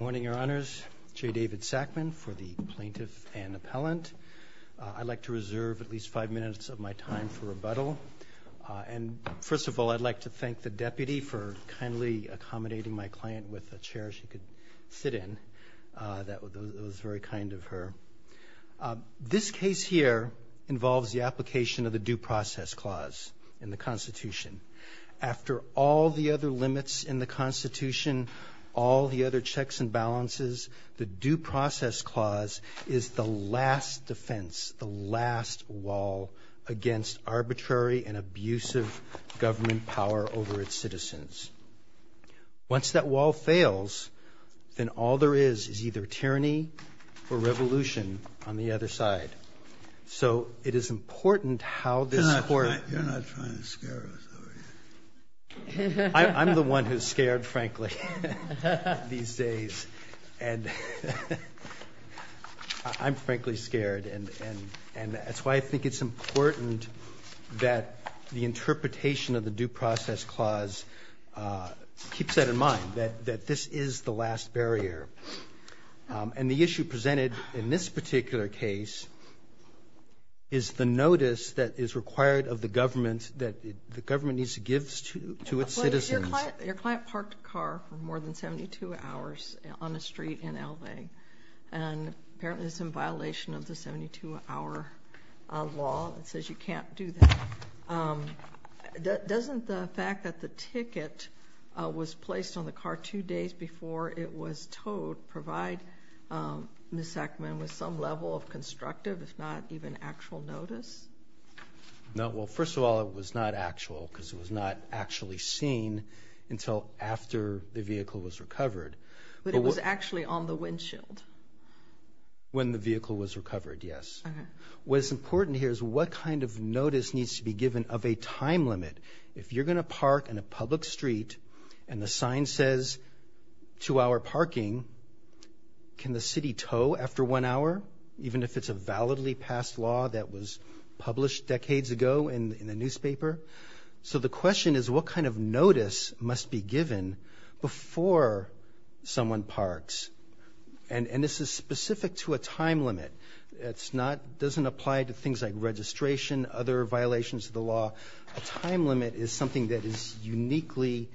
Morning, Your Honors. J. David Sackman for the Plaintiff and Appellant. I'd like to reserve at least five minutes of my time for rebuttal. And first of all, I'd like to thank the Deputy for kindly accommodating my client with a chair she could sit in. That was very kind of her. This case here involves the application of the Due Process Clause in the Constitution. After all the other limits in the Constitution, all the other checks and balances, the Due Process Clause is the last defense, the last wall against arbitrary and abusive government power over its citizens. Once that wall fails, then all there is is either tyranny or revolution on the other side. So it is important how this Court ---- You're not trying to scare us, are you? I'm the one who's scared, frankly, these days. And I'm frankly scared. And that's why I think it's important that the interpretation of the Due Process Clause keeps that in mind, that this is the last barrier. And the issue presented in this particular case is the notice that is required of the government that the government needs to give to its citizens. Your client parked a car for more than 72 hours on a street in L.A. And apparently it's in violation of the 72-hour law. It says you can't do that. Doesn't the fact that the ticket was placed on the car two days before it was towed provide Ms. Sackman with some level of constructive, if not even actual, notice? No, well, first of all, it was not actual because it was not actually seen until after the vehicle was recovered. But it was actually on the windshield? When the vehicle was recovered, yes. What is important here is what kind of notice needs to be given of a time limit. If you're going to park in a public street and the sign says two-hour parking, can the city tow after one hour, even if it's a validly passed law that was published decades ago in the newspaper? So the question is what kind of notice must be given before someone parks? And this is specific to a time limit. It doesn't apply to things like registration, other violations of the law. A time limit is something that uniquely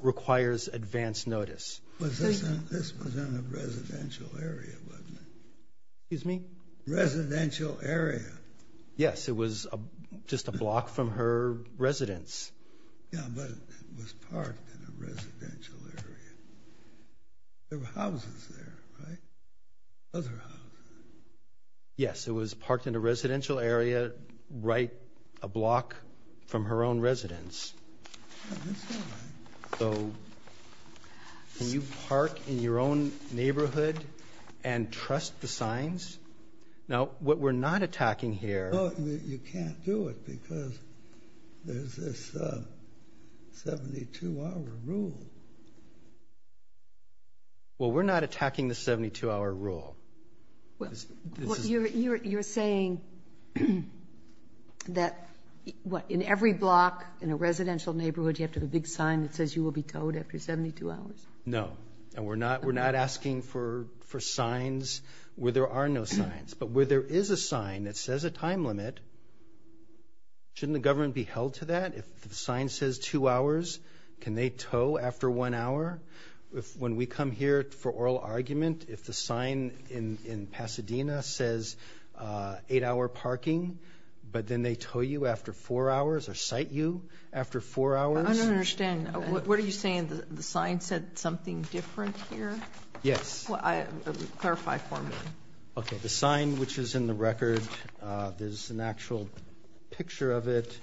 requires advance notice. This was in a residential area, wasn't it? Excuse me? Residential area. Yes, it was just a block from her residence. Yeah, but it was parked in a residential area. There were houses there, right? Other houses. Yes, it was parked in a residential area right a block from her own residence. That's not right. So can you park in your own neighborhood and trust the signs? Now, what we're not attacking here— You can't do it because there's this 72-hour rule. Well, we're not attacking the 72-hour rule. You're saying that in every block in a residential neighborhood, you have to have a big sign that says you will be towed after 72 hours? No, and we're not asking for signs where there are no signs. But where there is a sign that says a time limit, shouldn't the government be held to that? If the sign says two hours, can they tow after one hour? When we come here for oral argument, if the sign in Pasadena says eight-hour parking, but then they tow you after four hours or cite you after four hours? I don't understand. What are you saying? The sign said something different here? Yes. Clarify for me. Okay. The sign which is in the record, there's an actual picture of it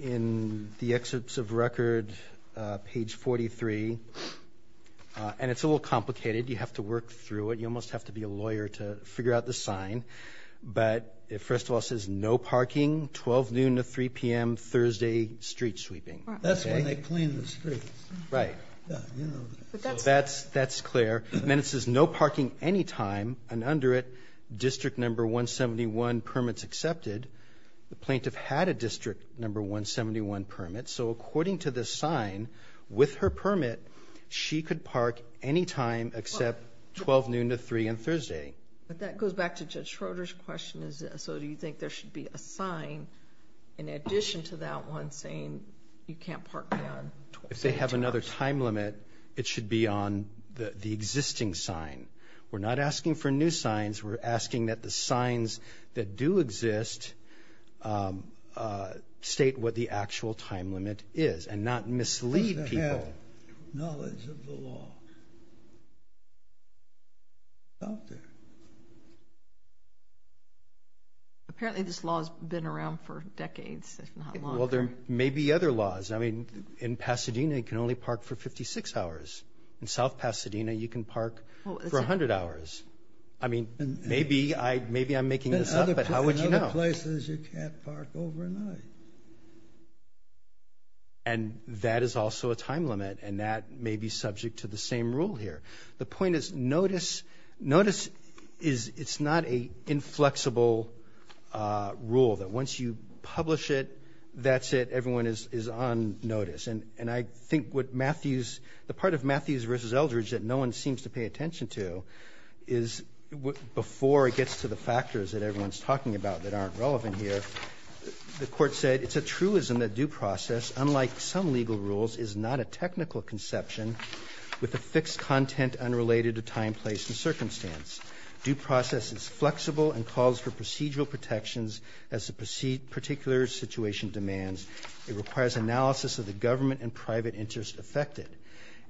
in the excerpts of record, page 43. And it's a little complicated. You have to work through it. You almost have to be a lawyer to figure out the sign. But it first of all says no parking, 12 noon to 3 p.m., Thursday, street sweeping. That's when they clean the streets. Right. That's clear. And then it says no parking any time. And under it, District No. 171 permits accepted. The plaintiff had a District No. 171 permit. So according to this sign, with her permit, she could park any time except 12 noon to 3 on Thursday. But that goes back to Judge Schroeder's question. So do you think there should be a sign in addition to that one saying you can't park beyond 12 noon to 3? If they have another time limit, it should be on the existing sign. We're not asking for new signs. We're asking that the signs that do exist state what the actual time limit is and not mislead people. You have to have knowledge of the law. It's out there. Apparently this law has been around for decades, if not longer. Well, there may be other laws. I mean, in Pasadena, you can only park for 56 hours. In South Pasadena, you can park for 100 hours. I mean, maybe I'm making this up, but how would you know? In other places, you can't park overnight. And that is also a time limit, and that may be subject to the same rule here. The point is notice is it's not an inflexible rule that once you publish it, that's it. Everyone is on notice. And I think what Matthews, the part of Matthews v. Eldridge that no one seems to pay attention to, is before it gets to the factors that everyone's talking about that aren't relevant here, the court said it's a truism that due process, unlike some legal rules, is not a technical conception with a fixed content unrelated to time, place, and circumstance. Due process is flexible and calls for procedural protections as the particular situation demands. It requires analysis of the government and private interest affected.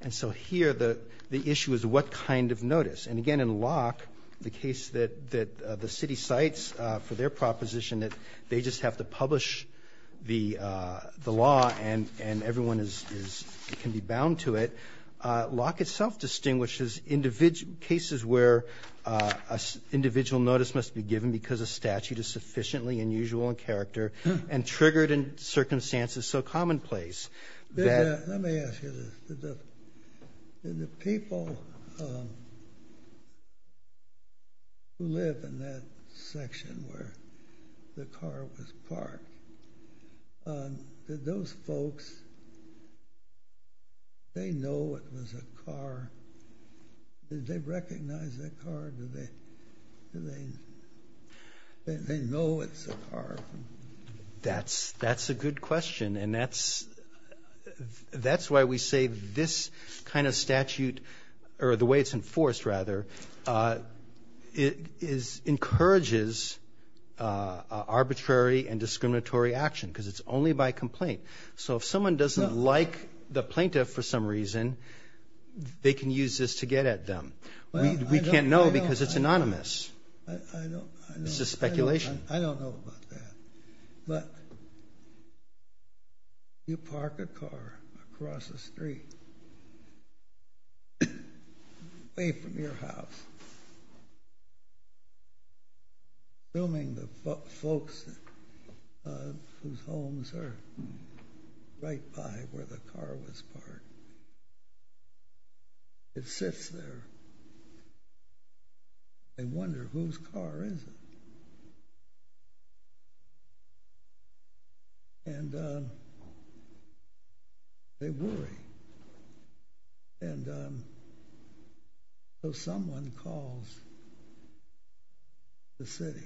And so here the issue is what kind of notice. And, again, in Locke, the case that the city cites for their proposition that they just have to publish the law and everyone can be bound to it, Locke itself distinguishes cases where an individual notice must be given because a statute is sufficiently unusual in character and triggered in circumstances so commonplace. Let me ask you this. The people who live in that section where the car was parked, did those folks, they know it was a car? Did they recognize that car? That's a good question. And that's why we say this kind of statute, or the way it's enforced, rather, it encourages arbitrary and discriminatory action because it's only by complaint. So if someone doesn't like the plaintiff for some reason, they can use this to get at them. We can't know because it's anonymous. It's just speculation. I don't know about that. But you park a car across the street, away from your house, assuming the folks whose homes are right by where the car was parked, it sits there. They wonder whose car is it. And they worry. And so someone calls the city.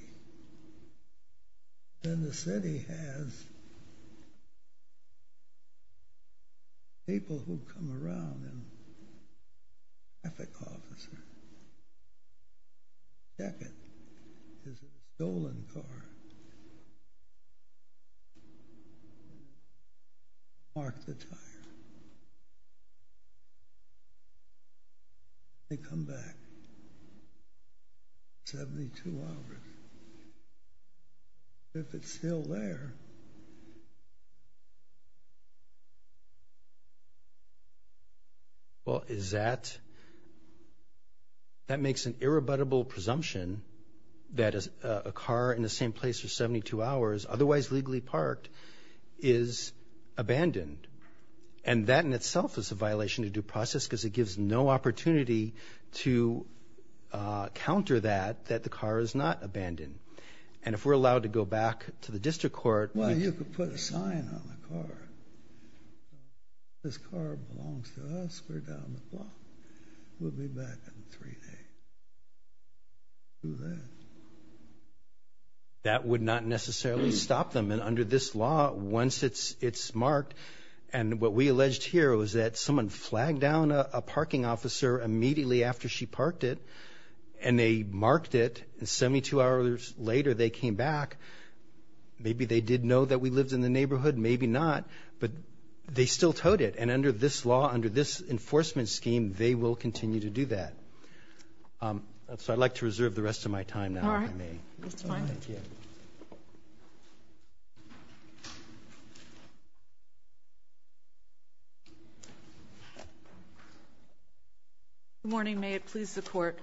Then the city has people who come around and traffic officer, check it. It's a stolen car. Mark the tire. They come back. 72 hours. If it's still there. Well, is that, that makes an irrebuttable presumption that a car in the same place for 72 hours, otherwise legally parked, is abandoned. And that in itself is a violation of due process because it gives no opportunity to counter that, that the car is not abandoned. And if we're allowed to go back to the district court. Well, you could put a sign on the car. This car belongs to us. We're down the block. We'll be back in three days. Do that. That would not necessarily stop them. And under this law, once it's marked. And what we alleged here was that someone flagged down a parking officer immediately after she parked it. And they marked it. And 72 hours later, they came back. Maybe they did know that we lived in the neighborhood. Maybe not. But they still towed it. And under this law, under this enforcement scheme, they will continue to do that. So I'd like to reserve the rest of my time now, if I may. All right. That's fine. Thank you. Good morning. May it please the Court.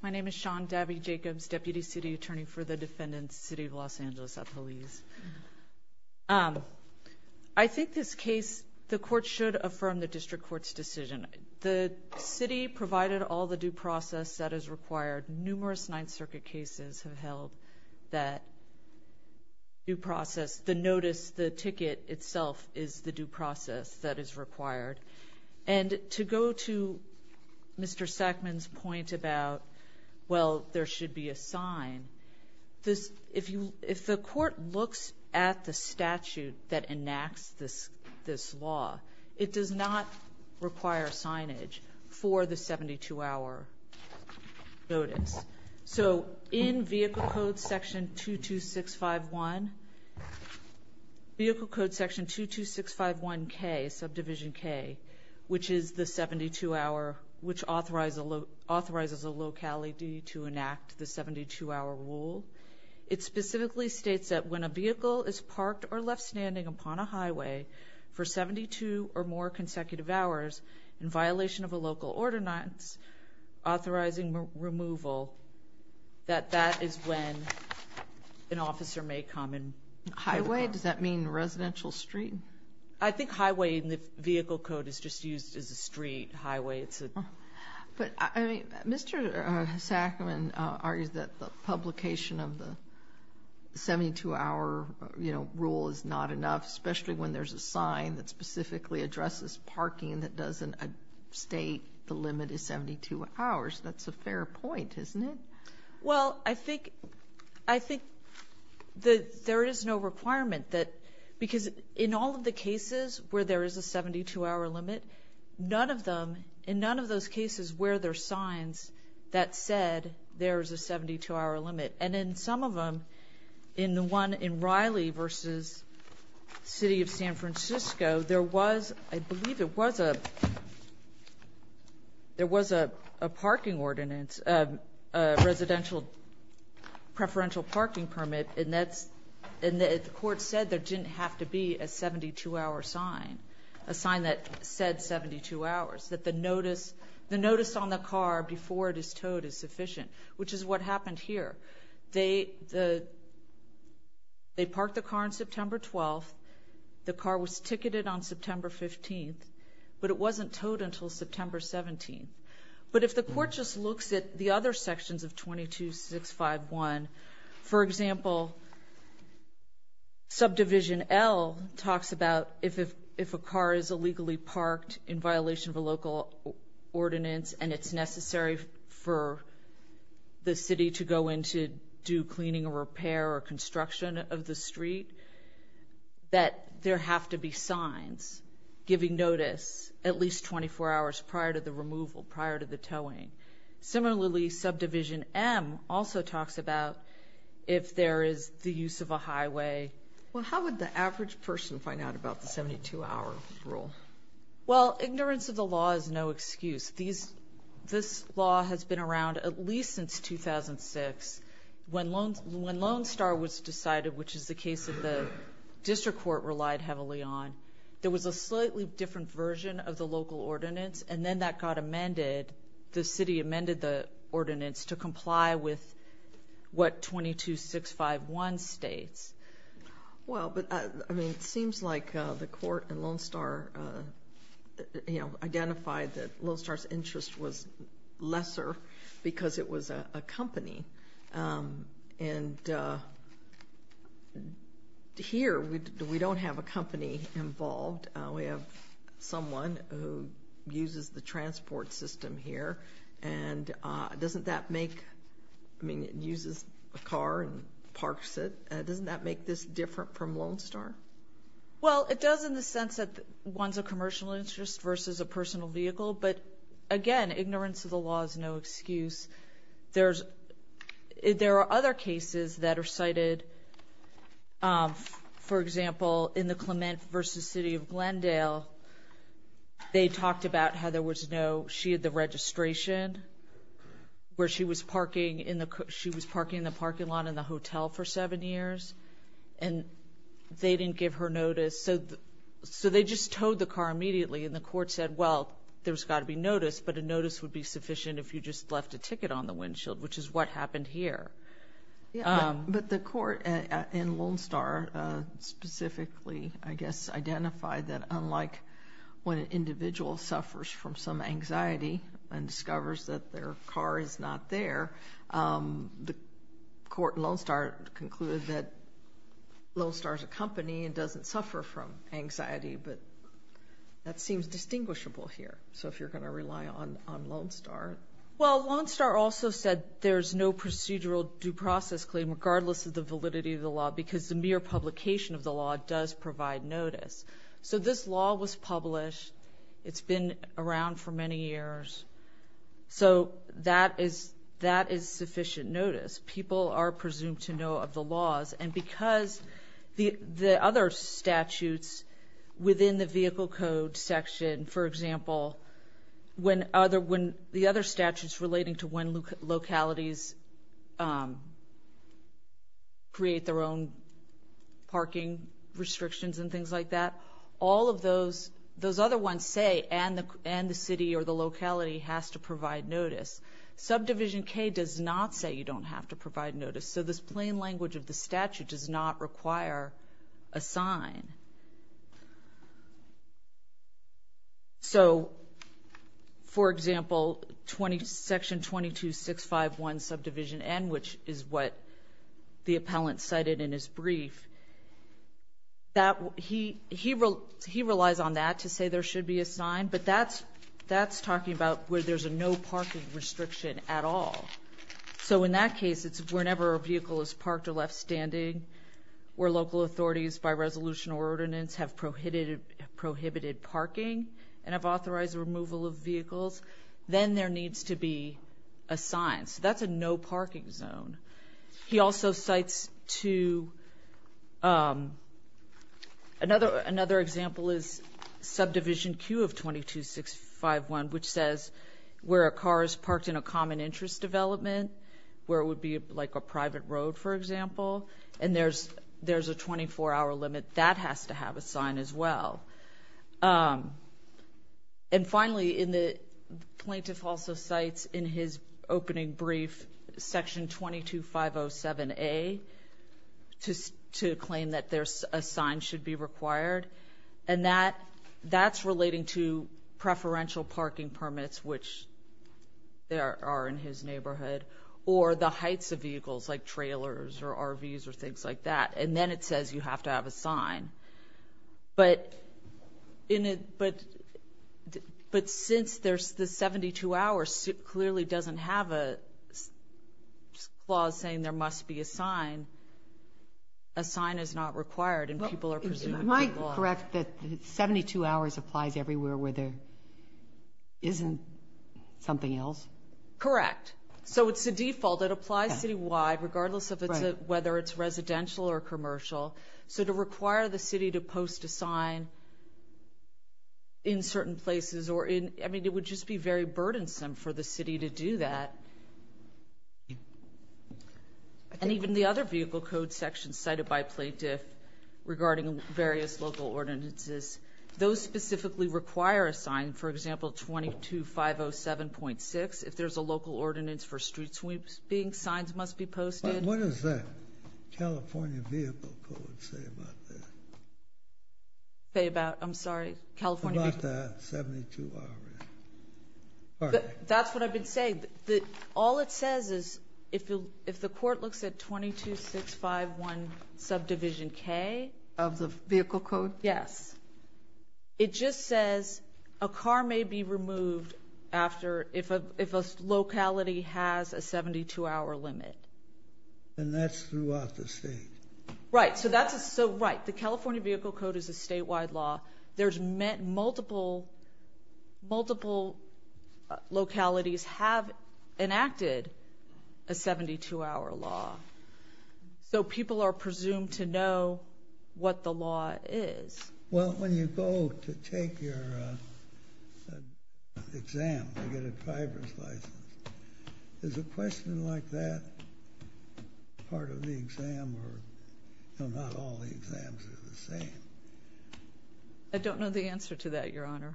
My name is Sean Davie Jacobs, Deputy City Attorney for the defendants, City of Los Angeles at Police. I think this case, the court should affirm the district court's decision. The city provided all the due process that is required. Numerous Ninth Circuit cases have held that due process. The notice, the ticket itself is the due process that is required. And to go to Mr. Sackman's point about, well, there should be a sign, if the court looks at the statute that enacts this law, it does not require signage for the 72-hour notice. So in Vehicle Code Section 22651, Vehicle Code Section 22651K, subdivision K, which is the 72-hour, which authorizes a locality to enact the 72-hour rule, it specifically states that when a vehicle is parked or left standing upon a highway for 72 or more consecutive hours in violation of a local ordinance authorizing removal, that that is when an officer may come and report. Highway? Does that mean residential street? I think highway in the Vehicle Code is just used as a street, highway. But, I mean, Mr. Sackman argues that the publication of the 72-hour, you know, rule is not enough, especially when there's a sign that specifically addresses parking that doesn't state the limit is 72 hours. That's a fair point, isn't it? Well, I think there is no requirement. Because in all of the cases where there is a 72-hour limit, none of them, in none of those cases, where there are signs that said there is a 72-hour limit. And in some of them, in the one in Riley v. City of San Francisco, there was, I believe it was a parking ordinance, a residential preferential parking permit, and the court said there didn't have to be a 72-hour sign, a sign that said 72 hours, that the notice on the car before it is towed is sufficient, which is what happened here. They parked the car on September 12th. The car was ticketed on September 15th. But it wasn't towed until September 17th. But if the court just looks at the other sections of 22651, for example, Subdivision L talks about if a car is illegally parked in violation of a local ordinance and it's necessary for the city to go in to do cleaning or repair or construction of the street, that there have to be signs giving notice at least 24 hours prior to the removal, prior to the towing. Similarly, Subdivision M also talks about if there is the use of a highway. Well, how would the average person find out about the 72-hour rule? Well, ignorance of the law is no excuse. This law has been around at least since 2006. When Lone Star was decided, which is the case that the district court relied heavily on, there was a slightly different version of the local ordinance, and then that got amended. The city amended the ordinance to comply with what 22651 states. Well, but, I mean, it seems like the court and Lone Star, you know, identified that Lone Star's interest was lesser because it was a company. And here we don't have a company involved. We have someone who uses the transport system here. And doesn't that make, I mean, it uses a car and parks it. Doesn't that make this different from Lone Star? Well, it does in the sense that one's a commercial interest versus a personal vehicle. But, again, ignorance of the law is no excuse. There are other cases that are cited, for example, in the Clement versus City of Glendale, they talked about how there was no, she had the registration, where she was parking in the parking lot in the hotel for seven years, and they didn't give her notice. So they just towed the car immediately, and the court said, well, there's got to be notice, but a notice would be sufficient if you just left a ticket on the windshield, which is what happened here. But the court in Lone Star specifically, I guess, identified that unlike when an individual suffers from some anxiety and discovers that their car is not there, the court in Lone Star concluded that Lone Star is a company and doesn't suffer from anxiety, but that seems distinguishable here. So if you're going to rely on Lone Star. Well, Lone Star also said there's no procedural due process claim, regardless of the validity of the law, because the mere publication of the law does provide notice. So this law was published. It's been around for many years. So that is sufficient notice. People are presumed to know of the laws, and because the other statutes within the vehicle code section, for example, when the other statutes relating to when localities create their own parking restrictions and things like that, all of those other ones say, and the city or the locality has to provide notice. Subdivision K does not say you don't have to provide notice. So this plain language of the statute does not require a sign. So, for example, Section 22651 Subdivision N, which is what the appellant cited in his brief, he relies on that to say there should be a sign, but that's talking about where there's no parking restriction at all. So in that case, it's whenever a vehicle is parked or left standing where local authorities by resolution or ordinance have prohibited parking and have authorized the removal of vehicles, then there needs to be a sign. So that's a no parking zone. He also cites to another example is Subdivision Q of 22651, which says where a car is parked in a common interest development, where it would be like a private road, for example, and there's a 24-hour limit, that has to have a sign as well. And finally, the plaintiff also cites in his opening brief Section 22507A to claim that a sign should be required, and that's relating to preferential parking permits, which there are in his neighborhood, or the heights of vehicles like trailers or RVs or things like that. And then it says you have to have a sign. But since the 72 hours clearly doesn't have a clause saying there must be a sign, a sign is not required and people are presumed to block. Am I correct that 72 hours applies everywhere where there isn't something else? Correct. So it's a default. It applies citywide regardless of whether it's residential or commercial. So to require the city to post a sign in certain places, I mean it would just be very burdensome for the city to do that. And even the other vehicle code sections cited by plaintiff regarding various local ordinances, those specifically require a sign, for example, 22507.6. If there's a local ordinance for street sweeping, signs must be posted. What does the California Vehicle Code say about that? I'm sorry, California Vehicle Code? About that 72 hours. That's what I've been saying. All it says is if the court looks at 22651 subdivision K. Of the vehicle code? Yes. It just says a car may be removed if a locality has a 72-hour limit. And that's throughout the state. Right. So that's right. The California Vehicle Code is a statewide law. Multiple localities have enacted a 72-hour law. So people are presumed to know what the law is. Well, when you go to take your exam to get a driver's license, is a question like that part of the exam or not all the exams are the same? I don't know the answer to that, Your Honor.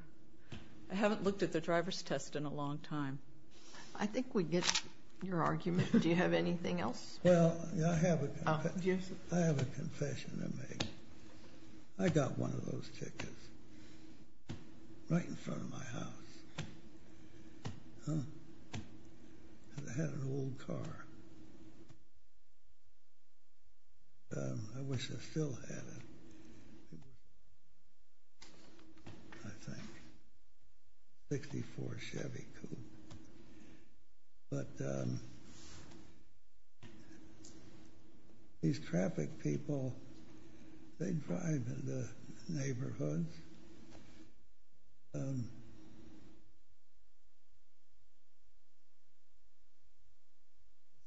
I haven't looked at the driver's test in a long time. I think we get your argument. Do you have anything else? Well, I have a confession to make. I got one of those tickets right in front of my house. I had an old car. I wish I still had it, I think. 64 Chevy Coupe. But these traffic people, they drive in the neighborhoods. I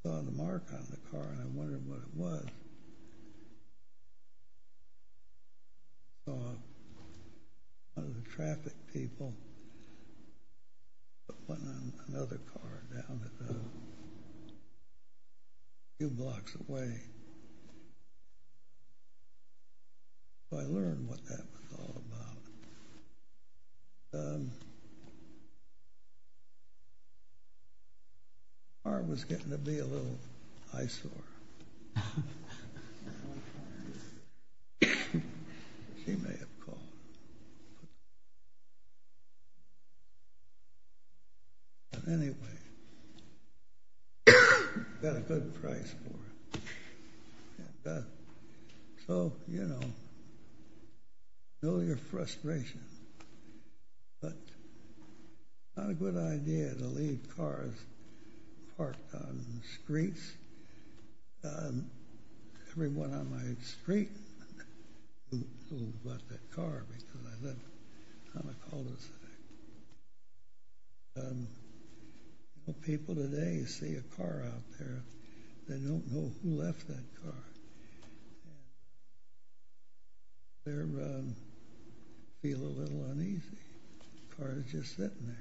saw the mark on the car, and I wondered what it was. I saw one of the traffic people putting another car down a few blocks away. So I learned what that was all about. The car was getting to be a little eyesore. She may have called. But anyway, I got a good price for it. So, you know, know your frustration. But it's not a good idea to leave cars parked on the streets. Everyone on my street who bought that car because I lived on a cul-de-sac. Well, people today see a car out there. They don't know who left that car. They feel a little uneasy. The car is just sitting there.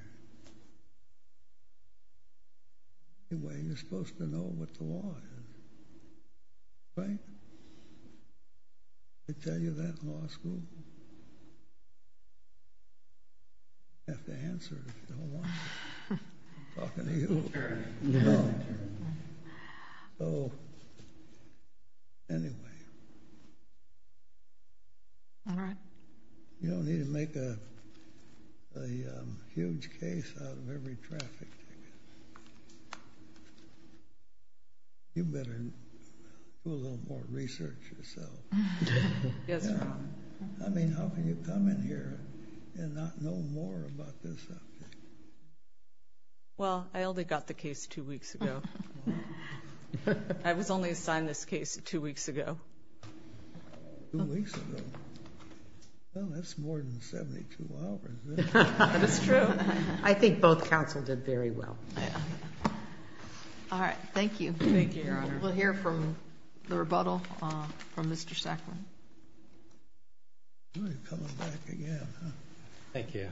Anyway, you're supposed to know what the law is, right? Did I tell you that in law school? You have to answer it if you don't want to. I'm talking to you. So, anyway. You don't need to make a huge case out of every traffic ticket. You better do a little more research yourself. Yes, sir. I mean, how can you come in here and not know more about this subject? Well, I only got the case two weeks ago. I was only assigned this case two weeks ago. Two weeks ago? Well, that's more than 72 hours, isn't it? That's true. I think both counsel did very well. All right, thank you. Thank you, Your Honor. We'll hear from the rebuttal from Mr. Sacklin. You're coming back again, huh? Thank you.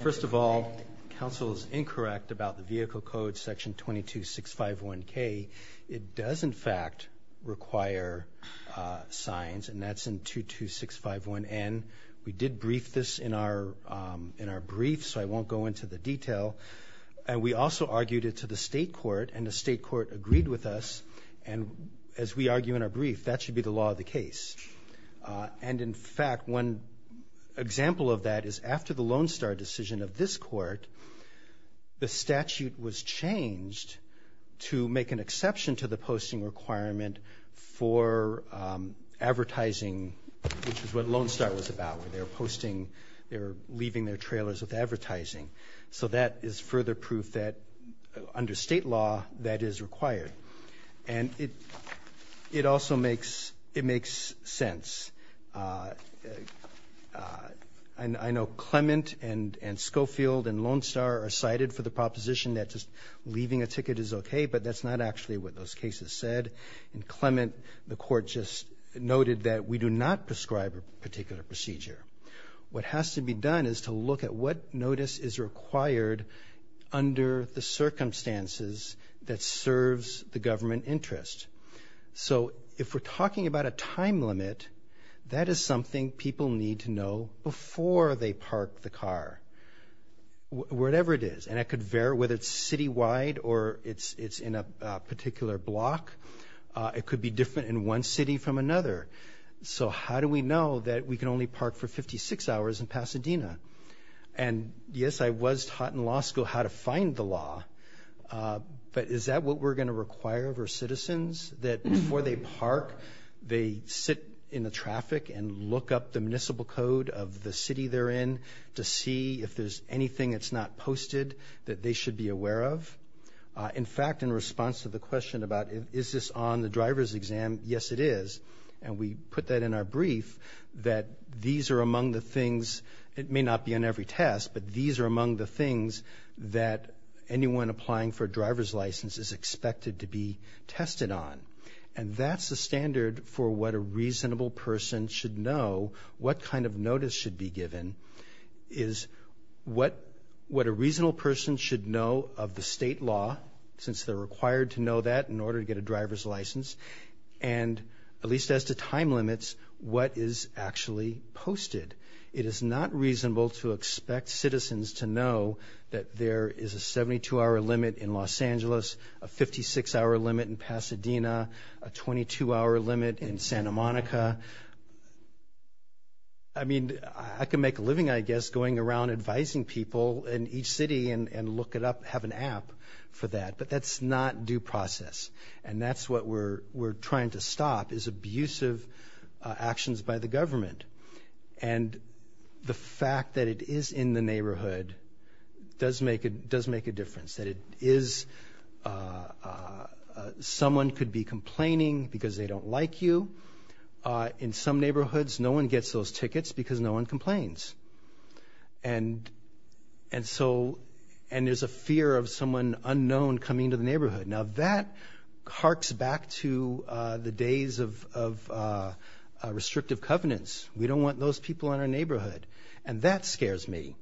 First of all, counsel is incorrect about the vehicle code, section 22651K. It does, in fact, require signs, and that's in 22651N. We did brief this in our brief, so I won't go into the detail. And we also argued it to the state court, and the state court agreed with us, and as we argue in our brief, that should be the law of the case. And, in fact, one example of that is after the Lone Star decision of this court, the statute was changed to make an exception to the posting requirement for advertising, which is what Lone Star was about, where they were posting, they were leaving their trailers with advertising. So that is further proof that under state law that is required. And it also makes sense. I know Clement and Schofield and Lone Star are cited for the proposition that just leaving a ticket is okay, but that's not actually what those cases said. And Clement, the court just noted that we do not prescribe a particular procedure. What has to be done is to look at what notice is required under the circumstances that serves the government interest. So if we're talking about a time limit, that is something people need to know before they park the car, whatever it is. And it could vary whether it's citywide or it's in a particular block. It could be different in one city from another. So how do we know that we can only park for 56 hours in Pasadena? And, yes, I was taught in law school how to find the law, but is that what we're going to require of our citizens, that before they park, they sit in the traffic and look up the municipal code of the city they're in to see if there's anything that's not posted that they should be aware of? In fact, in response to the question about is this on the driver's exam, yes, it is. And we put that in our brief that these are among the things, it may not be on every test, but these are among the things that anyone applying for a driver's license is expected to be tested on. And that's the standard for what a reasonable person should know, what kind of notice should be given is what a reasonable person should know of the state law, since they're required to know that in order to get a driver's license, and at least as to time limits, what is actually posted. It is not reasonable to expect citizens to know that there is a 72-hour limit in Los Angeles, a 56-hour limit in Pasadena, a 22-hour limit in Santa Monica. I mean, I can make a living, I guess, going around advising people in each city and look it up, have an app for that, but that's not due process. And that's what we're trying to stop is abusive actions by the government. And the fact that it is in the neighborhood does make a difference, that it is someone could be complaining because they don't like you. In some neighborhoods, no one gets those tickets because no one complains. And so there's a fear of someone unknown coming to the neighborhood. Now, that harks back to the days of restrictive covenants. We don't want those people in our neighborhood, and that scares me.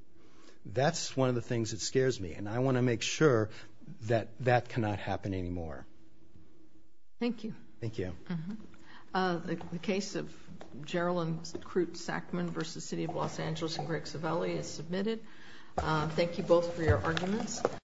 That's one of the things that scares me, and I want to make sure that that cannot happen anymore. Thank you. Thank you. The case of Jerilyn Crute-Sackman v. City of Los Angeles and Greg Civelli is submitted. Thank you both for your arguments.